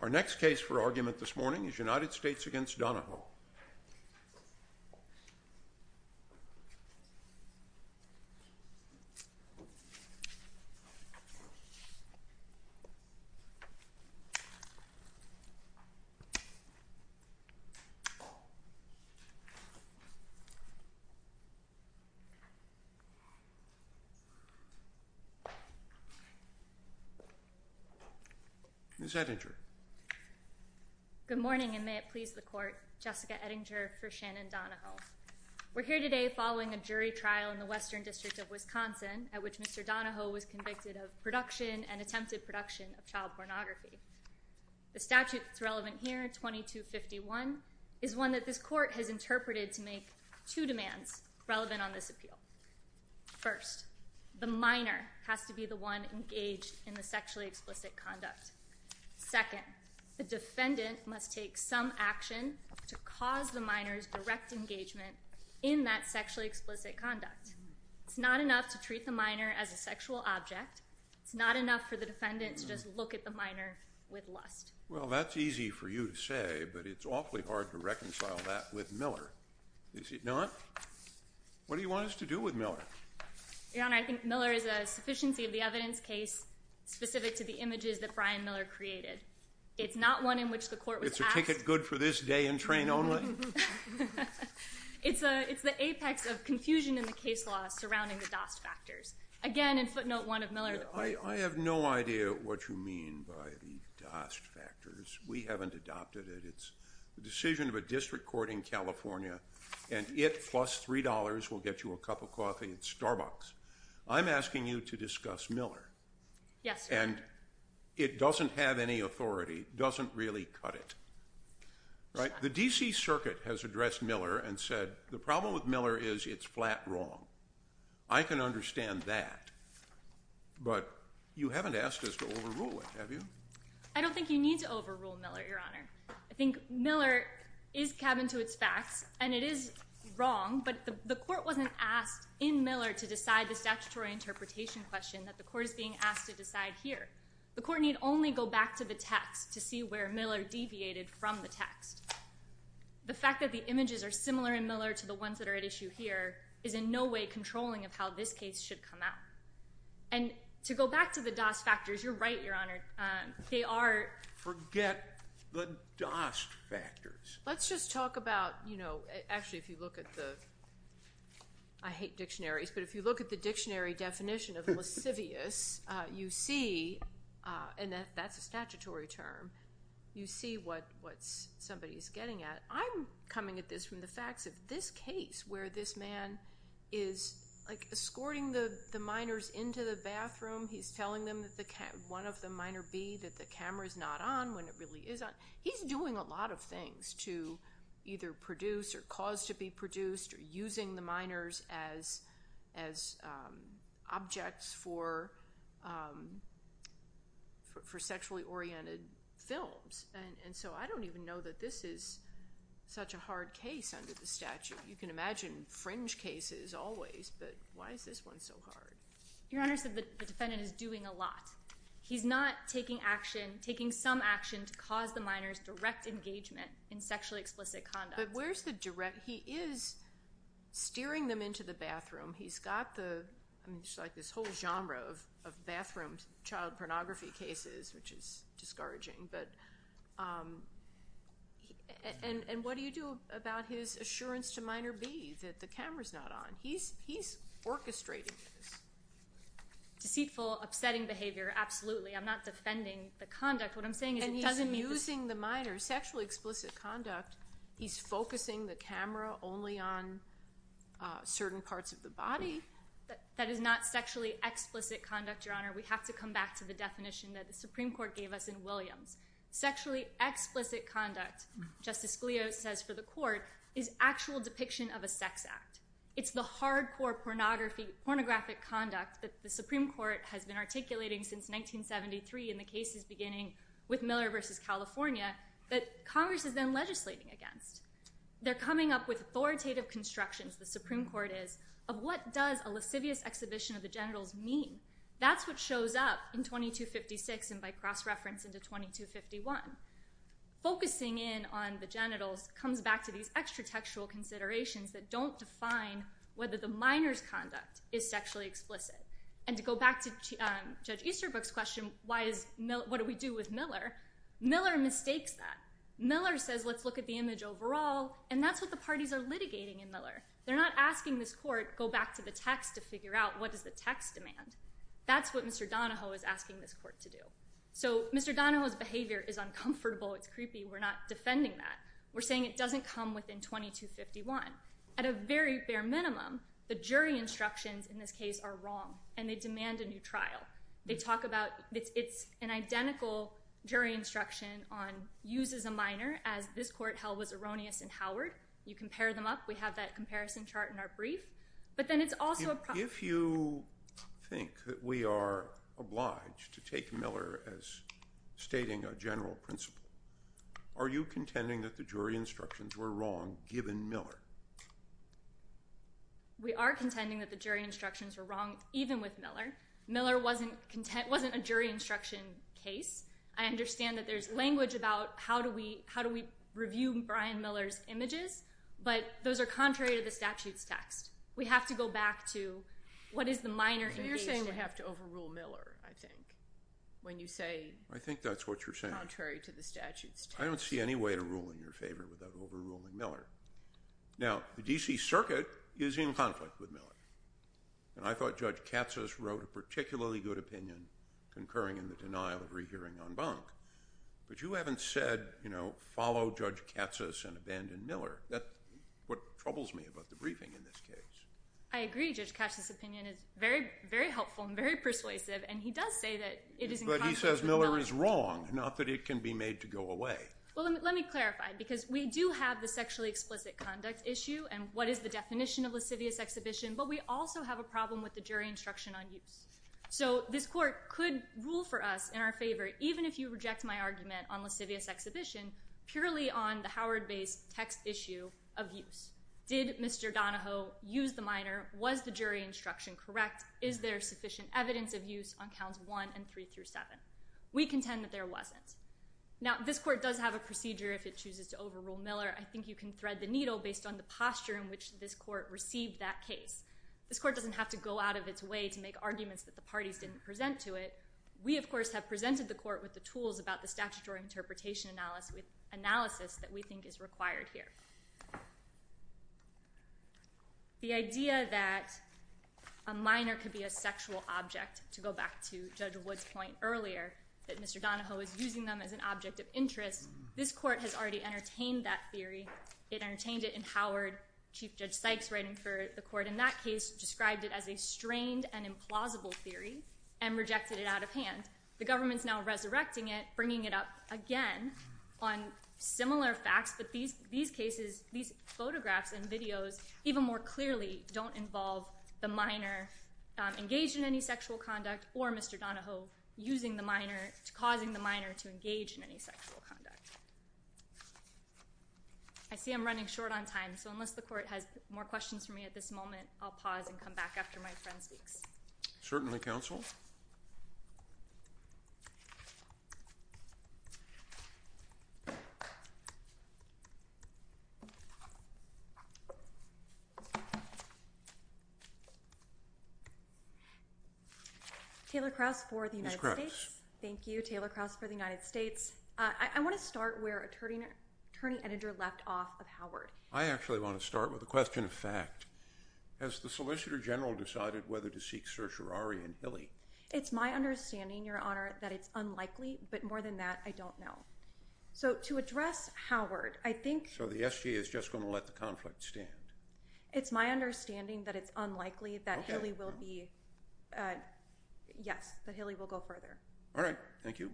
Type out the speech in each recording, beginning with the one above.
Our next case for argument this morning is United States v. Donoho. Ms. Ettinger Good morning and may it please the court, Jessica Ettinger for Shannon Donoho. We're here today following a jury trial in the Western District of Wisconsin at which Mr. Donoho was convicted of production and attempted production of child pornography. The statute that's relevant here, 2251, is one that this court has interpreted to make two demands relevant on this appeal. First, the minor has to be the one engaged in the sexually explicit conduct. Second, the defendant must take some action to cause the minor's direct engagement in that sexually explicit conduct. It's not enough to treat the minor as a sexual object. It's not enough for the defendant to just look at the minor with lust. Well, that's easy for you to say, but it's awfully hard to reconcile that with Miller. Is it not? What do you want us to do with Miller? Your Honor, I think Miller is a sufficiency of the evidence case specific to the images that Brian Miller created. It's not one in which the court was asked. It's a ticket good for this day and train only? It's the apex of confusion in the case law surrounding the Dost factors. Again, in footnote 1 of Miller, the court was asked. I have no idea what you mean by the Dost factors. We haven't adopted it. It's the decision of a district court in California, and it plus $3 will get you a cup of coffee at Starbucks. I'm asking you to discuss Miller. Yes, sir. And it doesn't have any authority, doesn't really cut it. The D.C. Circuit has addressed Miller and said the problem with Miller is it's flat wrong. I can understand that, but you haven't asked us to overrule it, have you? I don't think you need to overrule Miller, Your Honor. I think Miller is cabined to its facts, and it is wrong, but the court wasn't asked in Miller to decide the statutory interpretation question that the court is being asked to decide here. The court need only go back to the text to see where Miller deviated from the text. The fact that the images are similar in Miller to the ones that are at issue here is in no way controlling of how this case should come out. And to go back to the Dost factors, you're right, Your Honor. They are. Forget the Dost factors. Let's just talk about, you know, actually if you look at the, I hate dictionaries, but if you look at the dictionary definition of lascivious, you see, and that's a statutory term, you see what somebody is getting at. I'm coming at this from the facts of this case where this man is, like, escorting the minors into the bathroom. He's telling one of the minor B that the camera is not on when it really is on. He's doing a lot of things to either produce or cause to be produced or using the minors as objects for sexually oriented films, and so I don't even know that this is such a hard case under the statute. You can imagine fringe cases always, but why is this one so hard? Your Honor, the defendant is doing a lot. He's not taking action, taking some action to cause the minors direct engagement in sexually explicit conduct. But where's the direct? He is steering them into the bathroom. He's got the, I mean, it's like this whole genre of bathroom child pornography cases, which is discouraging, but and what do you do about his assurance to minor B that the camera's not on? He's orchestrating this. Deceitful, upsetting behavior, absolutely. I'm not defending the conduct. What I'm saying is it doesn't mean that. And he's using the minor's sexually explicit conduct. He's focusing the camera only on certain parts of the body. That is not sexually explicit conduct, Your Honor. We have to come back to the definition that the Supreme Court gave us in Williams. Sexually explicit conduct, Justice Scalia says for the court, is actual depiction of a sex act. It's the hardcore pornographic conduct that the Supreme Court has been articulating since 1973 in the cases beginning with Miller v. California that Congress is then legislating against. They're coming up with authoritative constructions, the Supreme Court is, of what does a lascivious exhibition of the genitals mean. That's what shows up in 2256 and by cross-reference into 2251. Focusing in on the genitals comes back to these extra-textual considerations that don't define whether the minor's conduct is sexually explicit. And to go back to Judge Easterbrook's question, what do we do with Miller? Miller mistakes that. Miller says, let's look at the image overall, and that's what the parties are litigating in Miller. They're not asking this court, go back to the text to figure out what does the text demand. That's what Mr. Donahoe is asking this court to do. So Mr. Donahoe's behavior is uncomfortable. It's creepy. We're not defending that. We're saying it doesn't come within 2251. At a very bare minimum, the jury instructions in this case are wrong, and they demand a new trial. They talk about it's an identical jury instruction on use as a minor as this court held was erroneous in Howard. You compare them up. We have that comparison chart in our brief. If you think that we are obliged to take Miller as stating a general principle, are you contending that the jury instructions were wrong given Miller? We are contending that the jury instructions were wrong even with Miller. Miller wasn't a jury instruction case. I understand that there's language about how do we review Brian Miller's images, but those are contrary to the statute's text. We have to go back to what is the minor engagement. You're saying we have to overrule Miller, I think, when you say contrary to the statute's text. I think that's what you're saying. I don't see any way to rule in your favor without overruling Miller. Now, the D.C. Circuit is in conflict with Miller, and I thought Judge Katsas wrote a particularly good opinion concurring in the denial of rehearing en banc, but you haven't said follow Judge Katsas and abandon Miller. That's what troubles me about the briefing in this case. I agree. Judge Katsas' opinion is very, very helpful and very persuasive, and he does say that it is in conflict with Miller. But he says Miller is wrong, not that it can be made to go away. Well, let me clarify, because we do have the sexually explicit conduct issue and what is the definition of lascivious exhibition, but we also have a problem with the jury instruction on use. So this court could rule for us in our favor, even if you reject my argument on lascivious exhibition, purely on the Howard-based text issue of use. Did Mr. Donahoe use the minor? Was the jury instruction correct? Is there sufficient evidence of use on counts 1 and 3 through 7? We contend that there wasn't. Now, this court does have a procedure if it chooses to overrule Miller. I think you can thread the needle based on the posture in which this court received that case. This court doesn't have to go out of its way to make arguments that the parties didn't present to it. We, of course, have presented the court with the tools about the statutory interpretation analysis that we think is required here. The idea that a minor could be a sexual object, to go back to Judge Wood's point earlier, that Mr. Donahoe is using them as an object of interest, this court has already entertained that theory. It entertained it in Howard. Chief Judge Sykes, writing for the court in that case, described it as a strained and implausible theory and rejected it out of hand. The government's now resurrecting it, bringing it up again on similar facts, but these cases, these photographs and videos, even more clearly, don't involve the minor engaged in any sexual conduct or Mr. Donahoe causing the minor to engage in any sexual conduct. I see I'm running short on time, so unless the court has more questions for me at this moment, I'll pause and come back after my friend speaks. Certainly, counsel. Taylor Krauss for the United States. Ms. Krauss. Thank you, Taylor Krauss for the United States. I want to start where Attorney Edinger left off of Howard. I actually want to start with a question of fact. Has the Solicitor General decided whether to seek certiorari in Hilly? It's my understanding, Your Honor, that it's unlikely, but more than that, I don't know. So to address Howard, I think— So the SG is just going to let the conflict stand? It's my understanding that it's unlikely that Hilly will be— Okay. Yes, that Hilly will go further. All right. Thank you.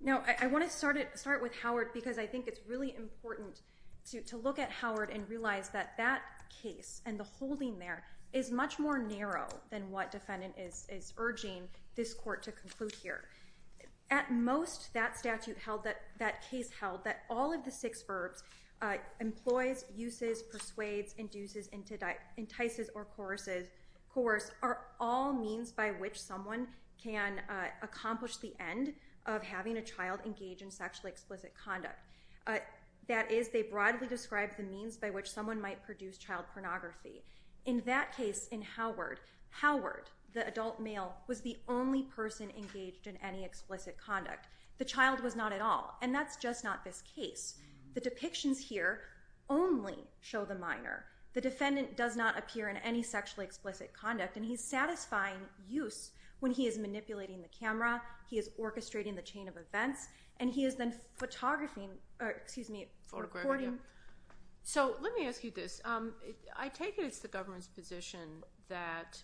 Now, I want to start with Howard because I think it's really important to look at Howard and realize that that case and the holding there is much more narrow than what defendant is urging this court to conclude here. At most, that case held that all of the six verbs— employs, uses, persuades, induces, entices, or coerces— are all means by which someone can accomplish the end of having a child engage in sexually explicit conduct. That is, they broadly describe the means by which someone might produce child pornography. In that case, in Howard, Howard, the adult male, was the only person engaged in any explicit conduct. The child was not at all, and that's just not this case. The depictions here only show the minor. The defendant does not appear in any sexually explicit conduct, and he's satisfying use when he is manipulating the camera, he is orchestrating the chain of events, and he is then photographing— or, excuse me, recording. So, let me ask you this. I take it it's the government's position that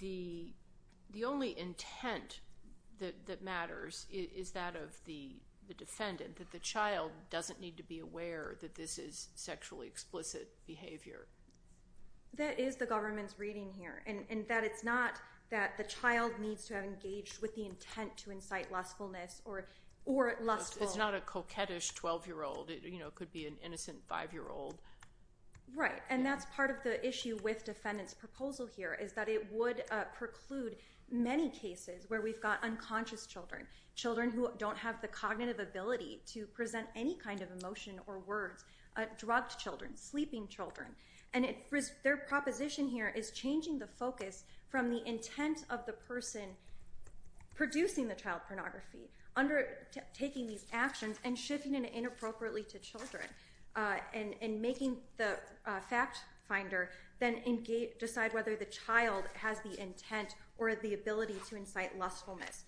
the only intent that matters is that of the defendant, that the child doesn't need to be aware that this is sexually explicit behavior. That is the government's reading here, and that it's not that the child needs to have engaged with the intent to incite lustfulness or lustful— It's not a coquettish 12-year-old. It could be an innocent 5-year-old. Right, and that's part of the issue with defendant's proposal here, is that it would preclude many cases where we've got unconscious children, children who don't have the cognitive ability to present any kind of emotion or words, drugged children, sleeping children, and their proposition here is changing the focus from the intent of the person producing the child pornography, undertaking these actions, and shifting it inappropriately to children, and making the fact finder then decide whether the child has the intent or the ability to incite lustfulness.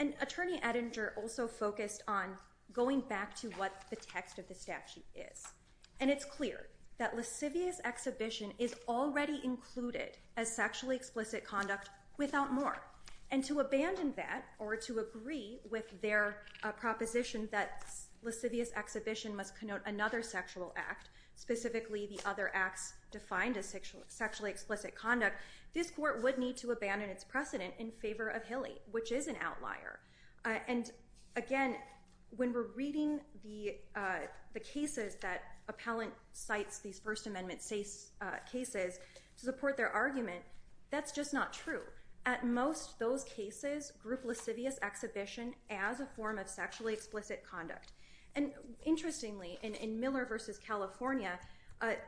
And Attorney Edinger also focused on going back to what the text of the statute is, and it's clear that lascivious exhibition is already included as sexually explicit conduct without more, and to abandon that or to agree with their proposition that lascivious exhibition must connote another sexual act, specifically the other acts defined as sexually explicit conduct, this court would need to abandon its precedent in favor of Hilly, which is an outlier. And again, when we're reading the cases that appellant cites these First Amendment cases to support their argument, that's just not true. At most, those cases group lascivious exhibition as a form of sexually explicit conduct. And interestingly, in Miller v. California,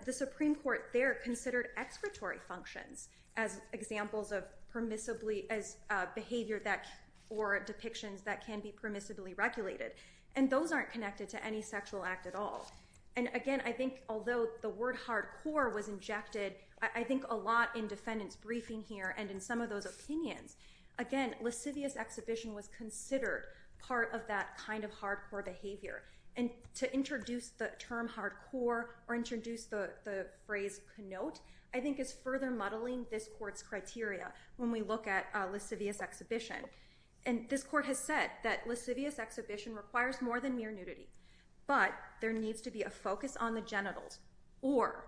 the Supreme Court there considered excretory functions as examples of behavior or depictions that can be permissibly regulated, and those aren't connected to any sexual act at all. And again, I think although the word hardcore was injected, I think a lot in defendants' briefing here and in some of those opinions, again, lascivious exhibition was considered part of that kind of hardcore behavior. And to introduce the term hardcore or introduce the phrase connote, I think is further muddling this court's criteria when we look at lascivious exhibition. And this court has said that lascivious exhibition requires more than mere nudity, but there needs to be a focus on the genitals, or,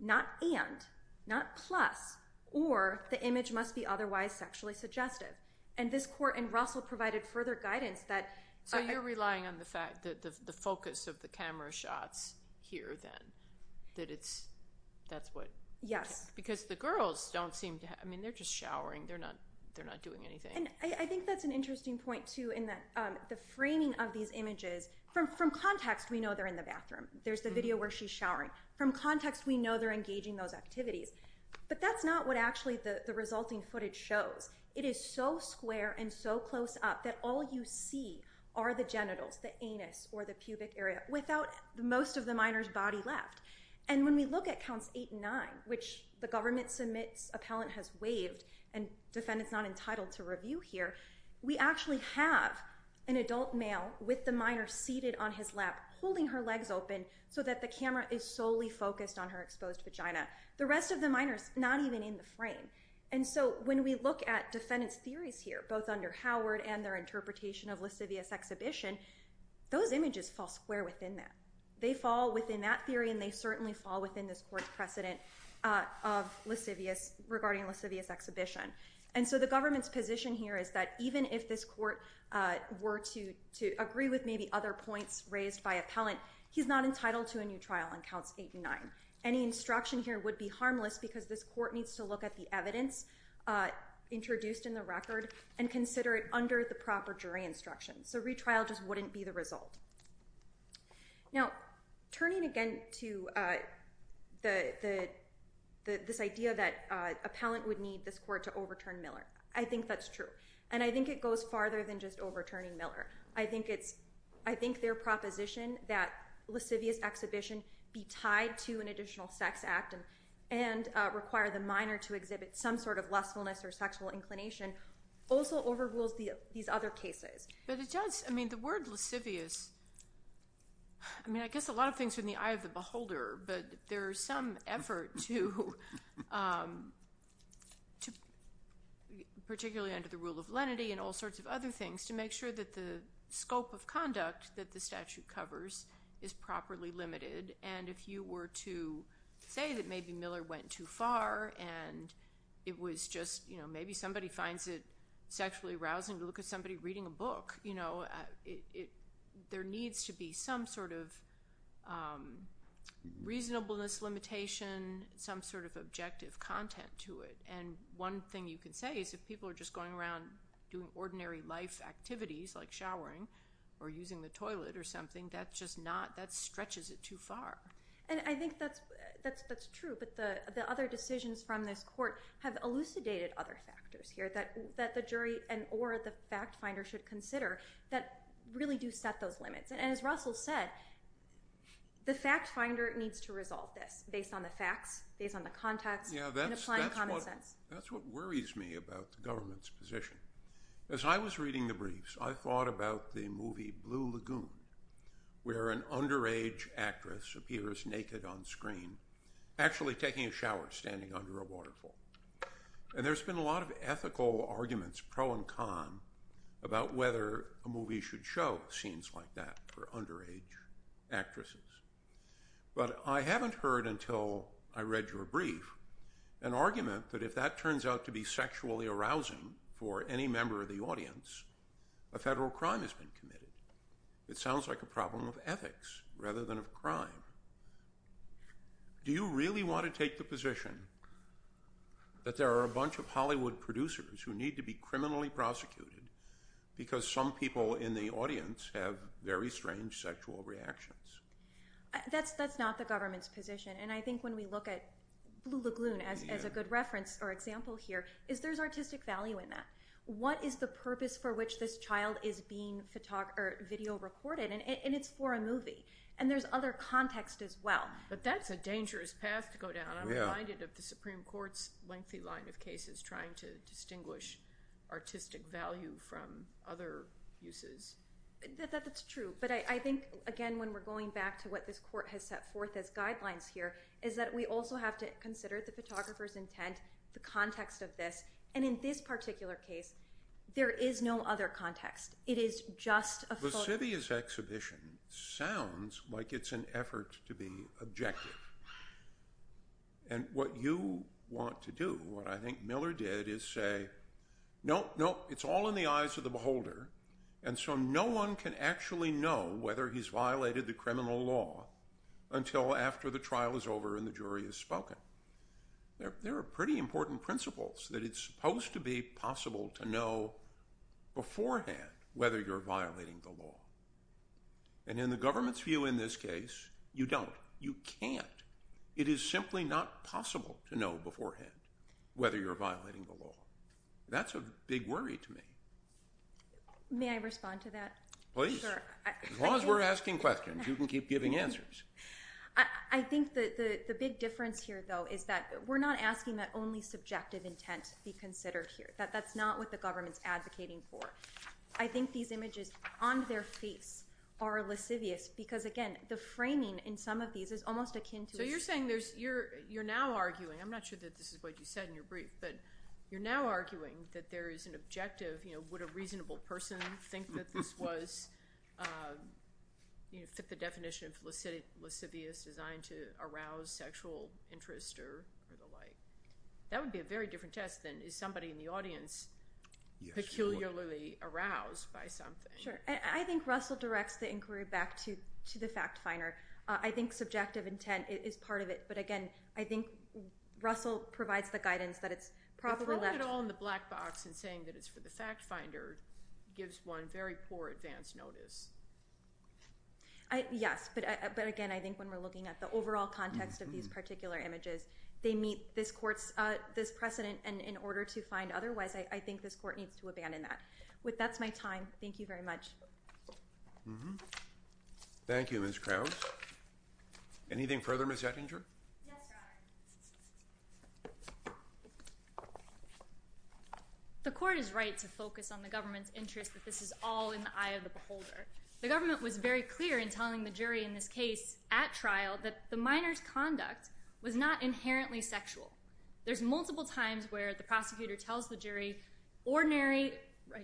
not and, not plus, or the image must be otherwise sexually suggestive. And this court in Russell provided further guidance that... So you're relying on the fact that the focus of the camera shots here, then, that it's, that's what... Yes. Because the girls don't seem to have, I mean, they're just showering. They're not doing anything. And I think that's an interesting point, too, in that the framing of these images, from context we know they're in the bathroom. There's the video where she's showering. From context we know they're engaging those activities. But that's not what actually the resulting footage shows. It is so square and so close up that all you see are the genitals, the anus, or the pubic area, without most of the minor's body left. And when we look at counts eight and nine, which the government submits, appellant has waived, and defendant's not entitled to review here, we actually have an adult male with the minor seated on his lap, holding her legs open so that the camera is solely focused on her exposed vagina. The rest of the minor's not even in the frame. And so when we look at defendant's theories here, both under Howard and their interpretation of lascivious exhibition, those images fall square within that. They fall within that theory and they certainly fall within this court's precedent of lascivious, regarding lascivious exhibition. And so the government's position here is that even if this court were to agree with maybe other points raised by appellant, he's not entitled to a new trial in counts eight and nine. Any instruction here would be harmless because this court needs to look at the evidence introduced in the record and consider it under the proper jury instruction. So retrial just wouldn't be the result. Now, turning again to this idea that appellant would need this court to overturn Miller, I think that's true. And I think it goes farther than just overturning Miller. I think their proposition that lascivious exhibition be tied to an additional sex act and require the minor to exhibit some sort of lustfulness or sexual inclination also overrules these other cases. But it does. I mean, the word lascivious, I mean, I guess a lot of things are in the eye of the beholder, but there is some effort to, particularly under the rule of lenity and all sorts of other things, to make sure that the scope of conduct that the statute covers is properly limited. And if you were to say that maybe Miller went too far and it was just maybe somebody finds it sexually arousing to look at somebody reading a book, there needs to be some sort of reasonableness limitation, some sort of objective content to it. And one thing you can say is if people are just going around doing ordinary life activities, like showering or using the toilet or something, that stretches it too far. And I think that's true. But the other decisions from this court have elucidated other factors here that the jury and or the fact finder should consider that really do set those limits. And as Russell said, the fact finder needs to resolve this based on the facts, based on the context, and applying common sense. Yeah, that's what worries me about the government's position. As I was reading the briefs, I thought about the movie Blue Lagoon, where an underage actress appears naked on screen actually taking a shower, standing under a waterfall. And there's been a lot of ethical arguments, pro and con, about whether a movie should show scenes like that for underage actresses. But I haven't heard until I read your brief an argument that if that turns out to be sexually arousing for any member of the audience, a federal crime has been committed. It sounds like a problem of ethics rather than of crime. Do you really want to take the position that there are a bunch of Hollywood producers who need to be criminally prosecuted because some people in the audience have very strange sexual reactions? That's not the government's position. And I think when we look at Blue Lagoon as a good reference or example here, there's artistic value in that. What is the purpose for which this child is being video recorded? And it's for a movie. And there's other context as well. But that's a dangerous path to go down. I'm reminded of the Supreme Court's lengthy line of cases trying to distinguish artistic value from other uses. That's true. But I think, again, when we're going back to what this court has set forth as guidelines here, is that we also have to consider the photographer's intent, the context of this. And in this particular case, there is no other context. It is just a photo. Vesivia's exhibition sounds like it's an effort to be objective. And what you want to do, what I think Miller did, is say, No, no, it's all in the eyes of the beholder. And so no one can actually know whether he's violated the criminal law until after the trial is over and the jury has spoken. There are pretty important principles that it's supposed to be possible to know beforehand whether you're violating the law. And in the government's view in this case, you don't. You can't. It is simply not possible to know beforehand whether you're violating the law. That's a big worry to me. May I respond to that? Please. As long as we're asking questions, you can keep giving answers. I think the big difference here, though, is that we're not asking that only subjective intent be considered here. That's not what the government's advocating for. I think these images on their face are lascivious because, again, the framing in some of these is almost akin to a So you're saying you're now arguing, I'm not sure that this is what you said in your brief, but you're now arguing that there is an objective, you know, would a reasonable person think that this was, you know, fit the definition of lascivious designed to arouse sexual interest or the like. That would be a very different test than is somebody in the audience peculiarly aroused by something. Sure. I think Russell directs the inquiry back to the fact finder. I think subjective intent is part of it. But, again, I think Russell provides the guidance that it's probably left. But throwing it all in the black box and saying that it's for the fact finder gives one very poor advance notice. Yes. But, again, I think when we're looking at the overall context of these particular images, they meet this court's precedent. And in order to find otherwise, I think this court needs to abandon that. That's my time. Thank you very much. Thank you, Ms. Krause. Anything further, Ms. Ettinger? Yes, Your Honor. The court is right to focus on the government's interest that this is all in the eye of the beholder. The government was very clear in telling the jury in this case at trial that the minor's conduct was not inherently sexual. There's multiple times where the prosecutor tells the jury ordinary,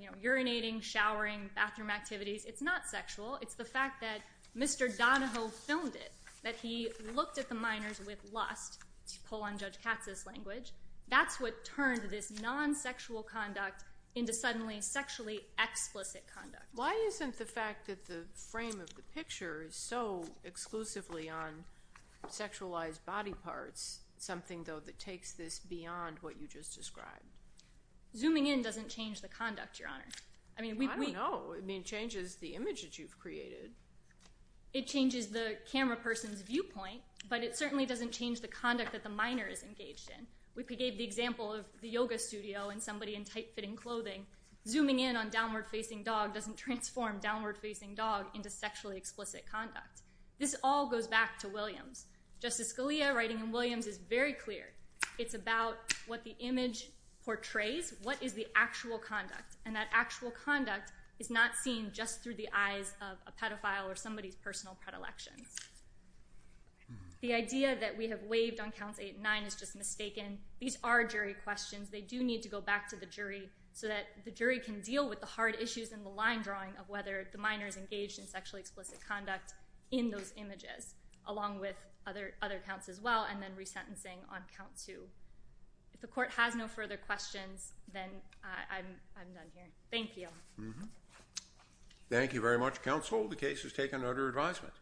you know, urinating, showering, bathroom activities. It's not sexual. It's the fact that Mr. Donahoe filmed it, that he looked at the minors with lust, to pull on Judge Katz's language. That's what turned this non-sexual conduct into suddenly sexually explicit conduct. Why isn't the fact that the frame of the picture is so exclusively on sexualized body parts something, though, that takes this beyond what you just described? Zooming in doesn't change the conduct, Your Honor. I don't know. I mean, it changes the image that you've created. It changes the camera person's viewpoint, but it certainly doesn't change the conduct that the minor is engaged in. We gave the example of the yoga studio and somebody in tight-fitting clothing. Zooming in on downward-facing dog doesn't transform downward-facing dog into sexually explicit conduct. This all goes back to Williams. Justice Scalia, writing in Williams, is very clear. It's about what the image portrays, what is the actual conduct. And that actual conduct is not seen just through the eyes of a pedophile or somebody's personal predilections. The idea that we have waived on Counts 8 and 9 is just mistaken. These are jury questions. They do need to go back to the jury so that the jury can deal with the hard issues in the line drawing of whether the minor is engaged in sexually explicit conduct in those images, along with other counts as well, and then resentencing on Count 2. If the court has no further questions, then I'm done here. Thank you. Thank you very much, counsel. The case is taken under advisement.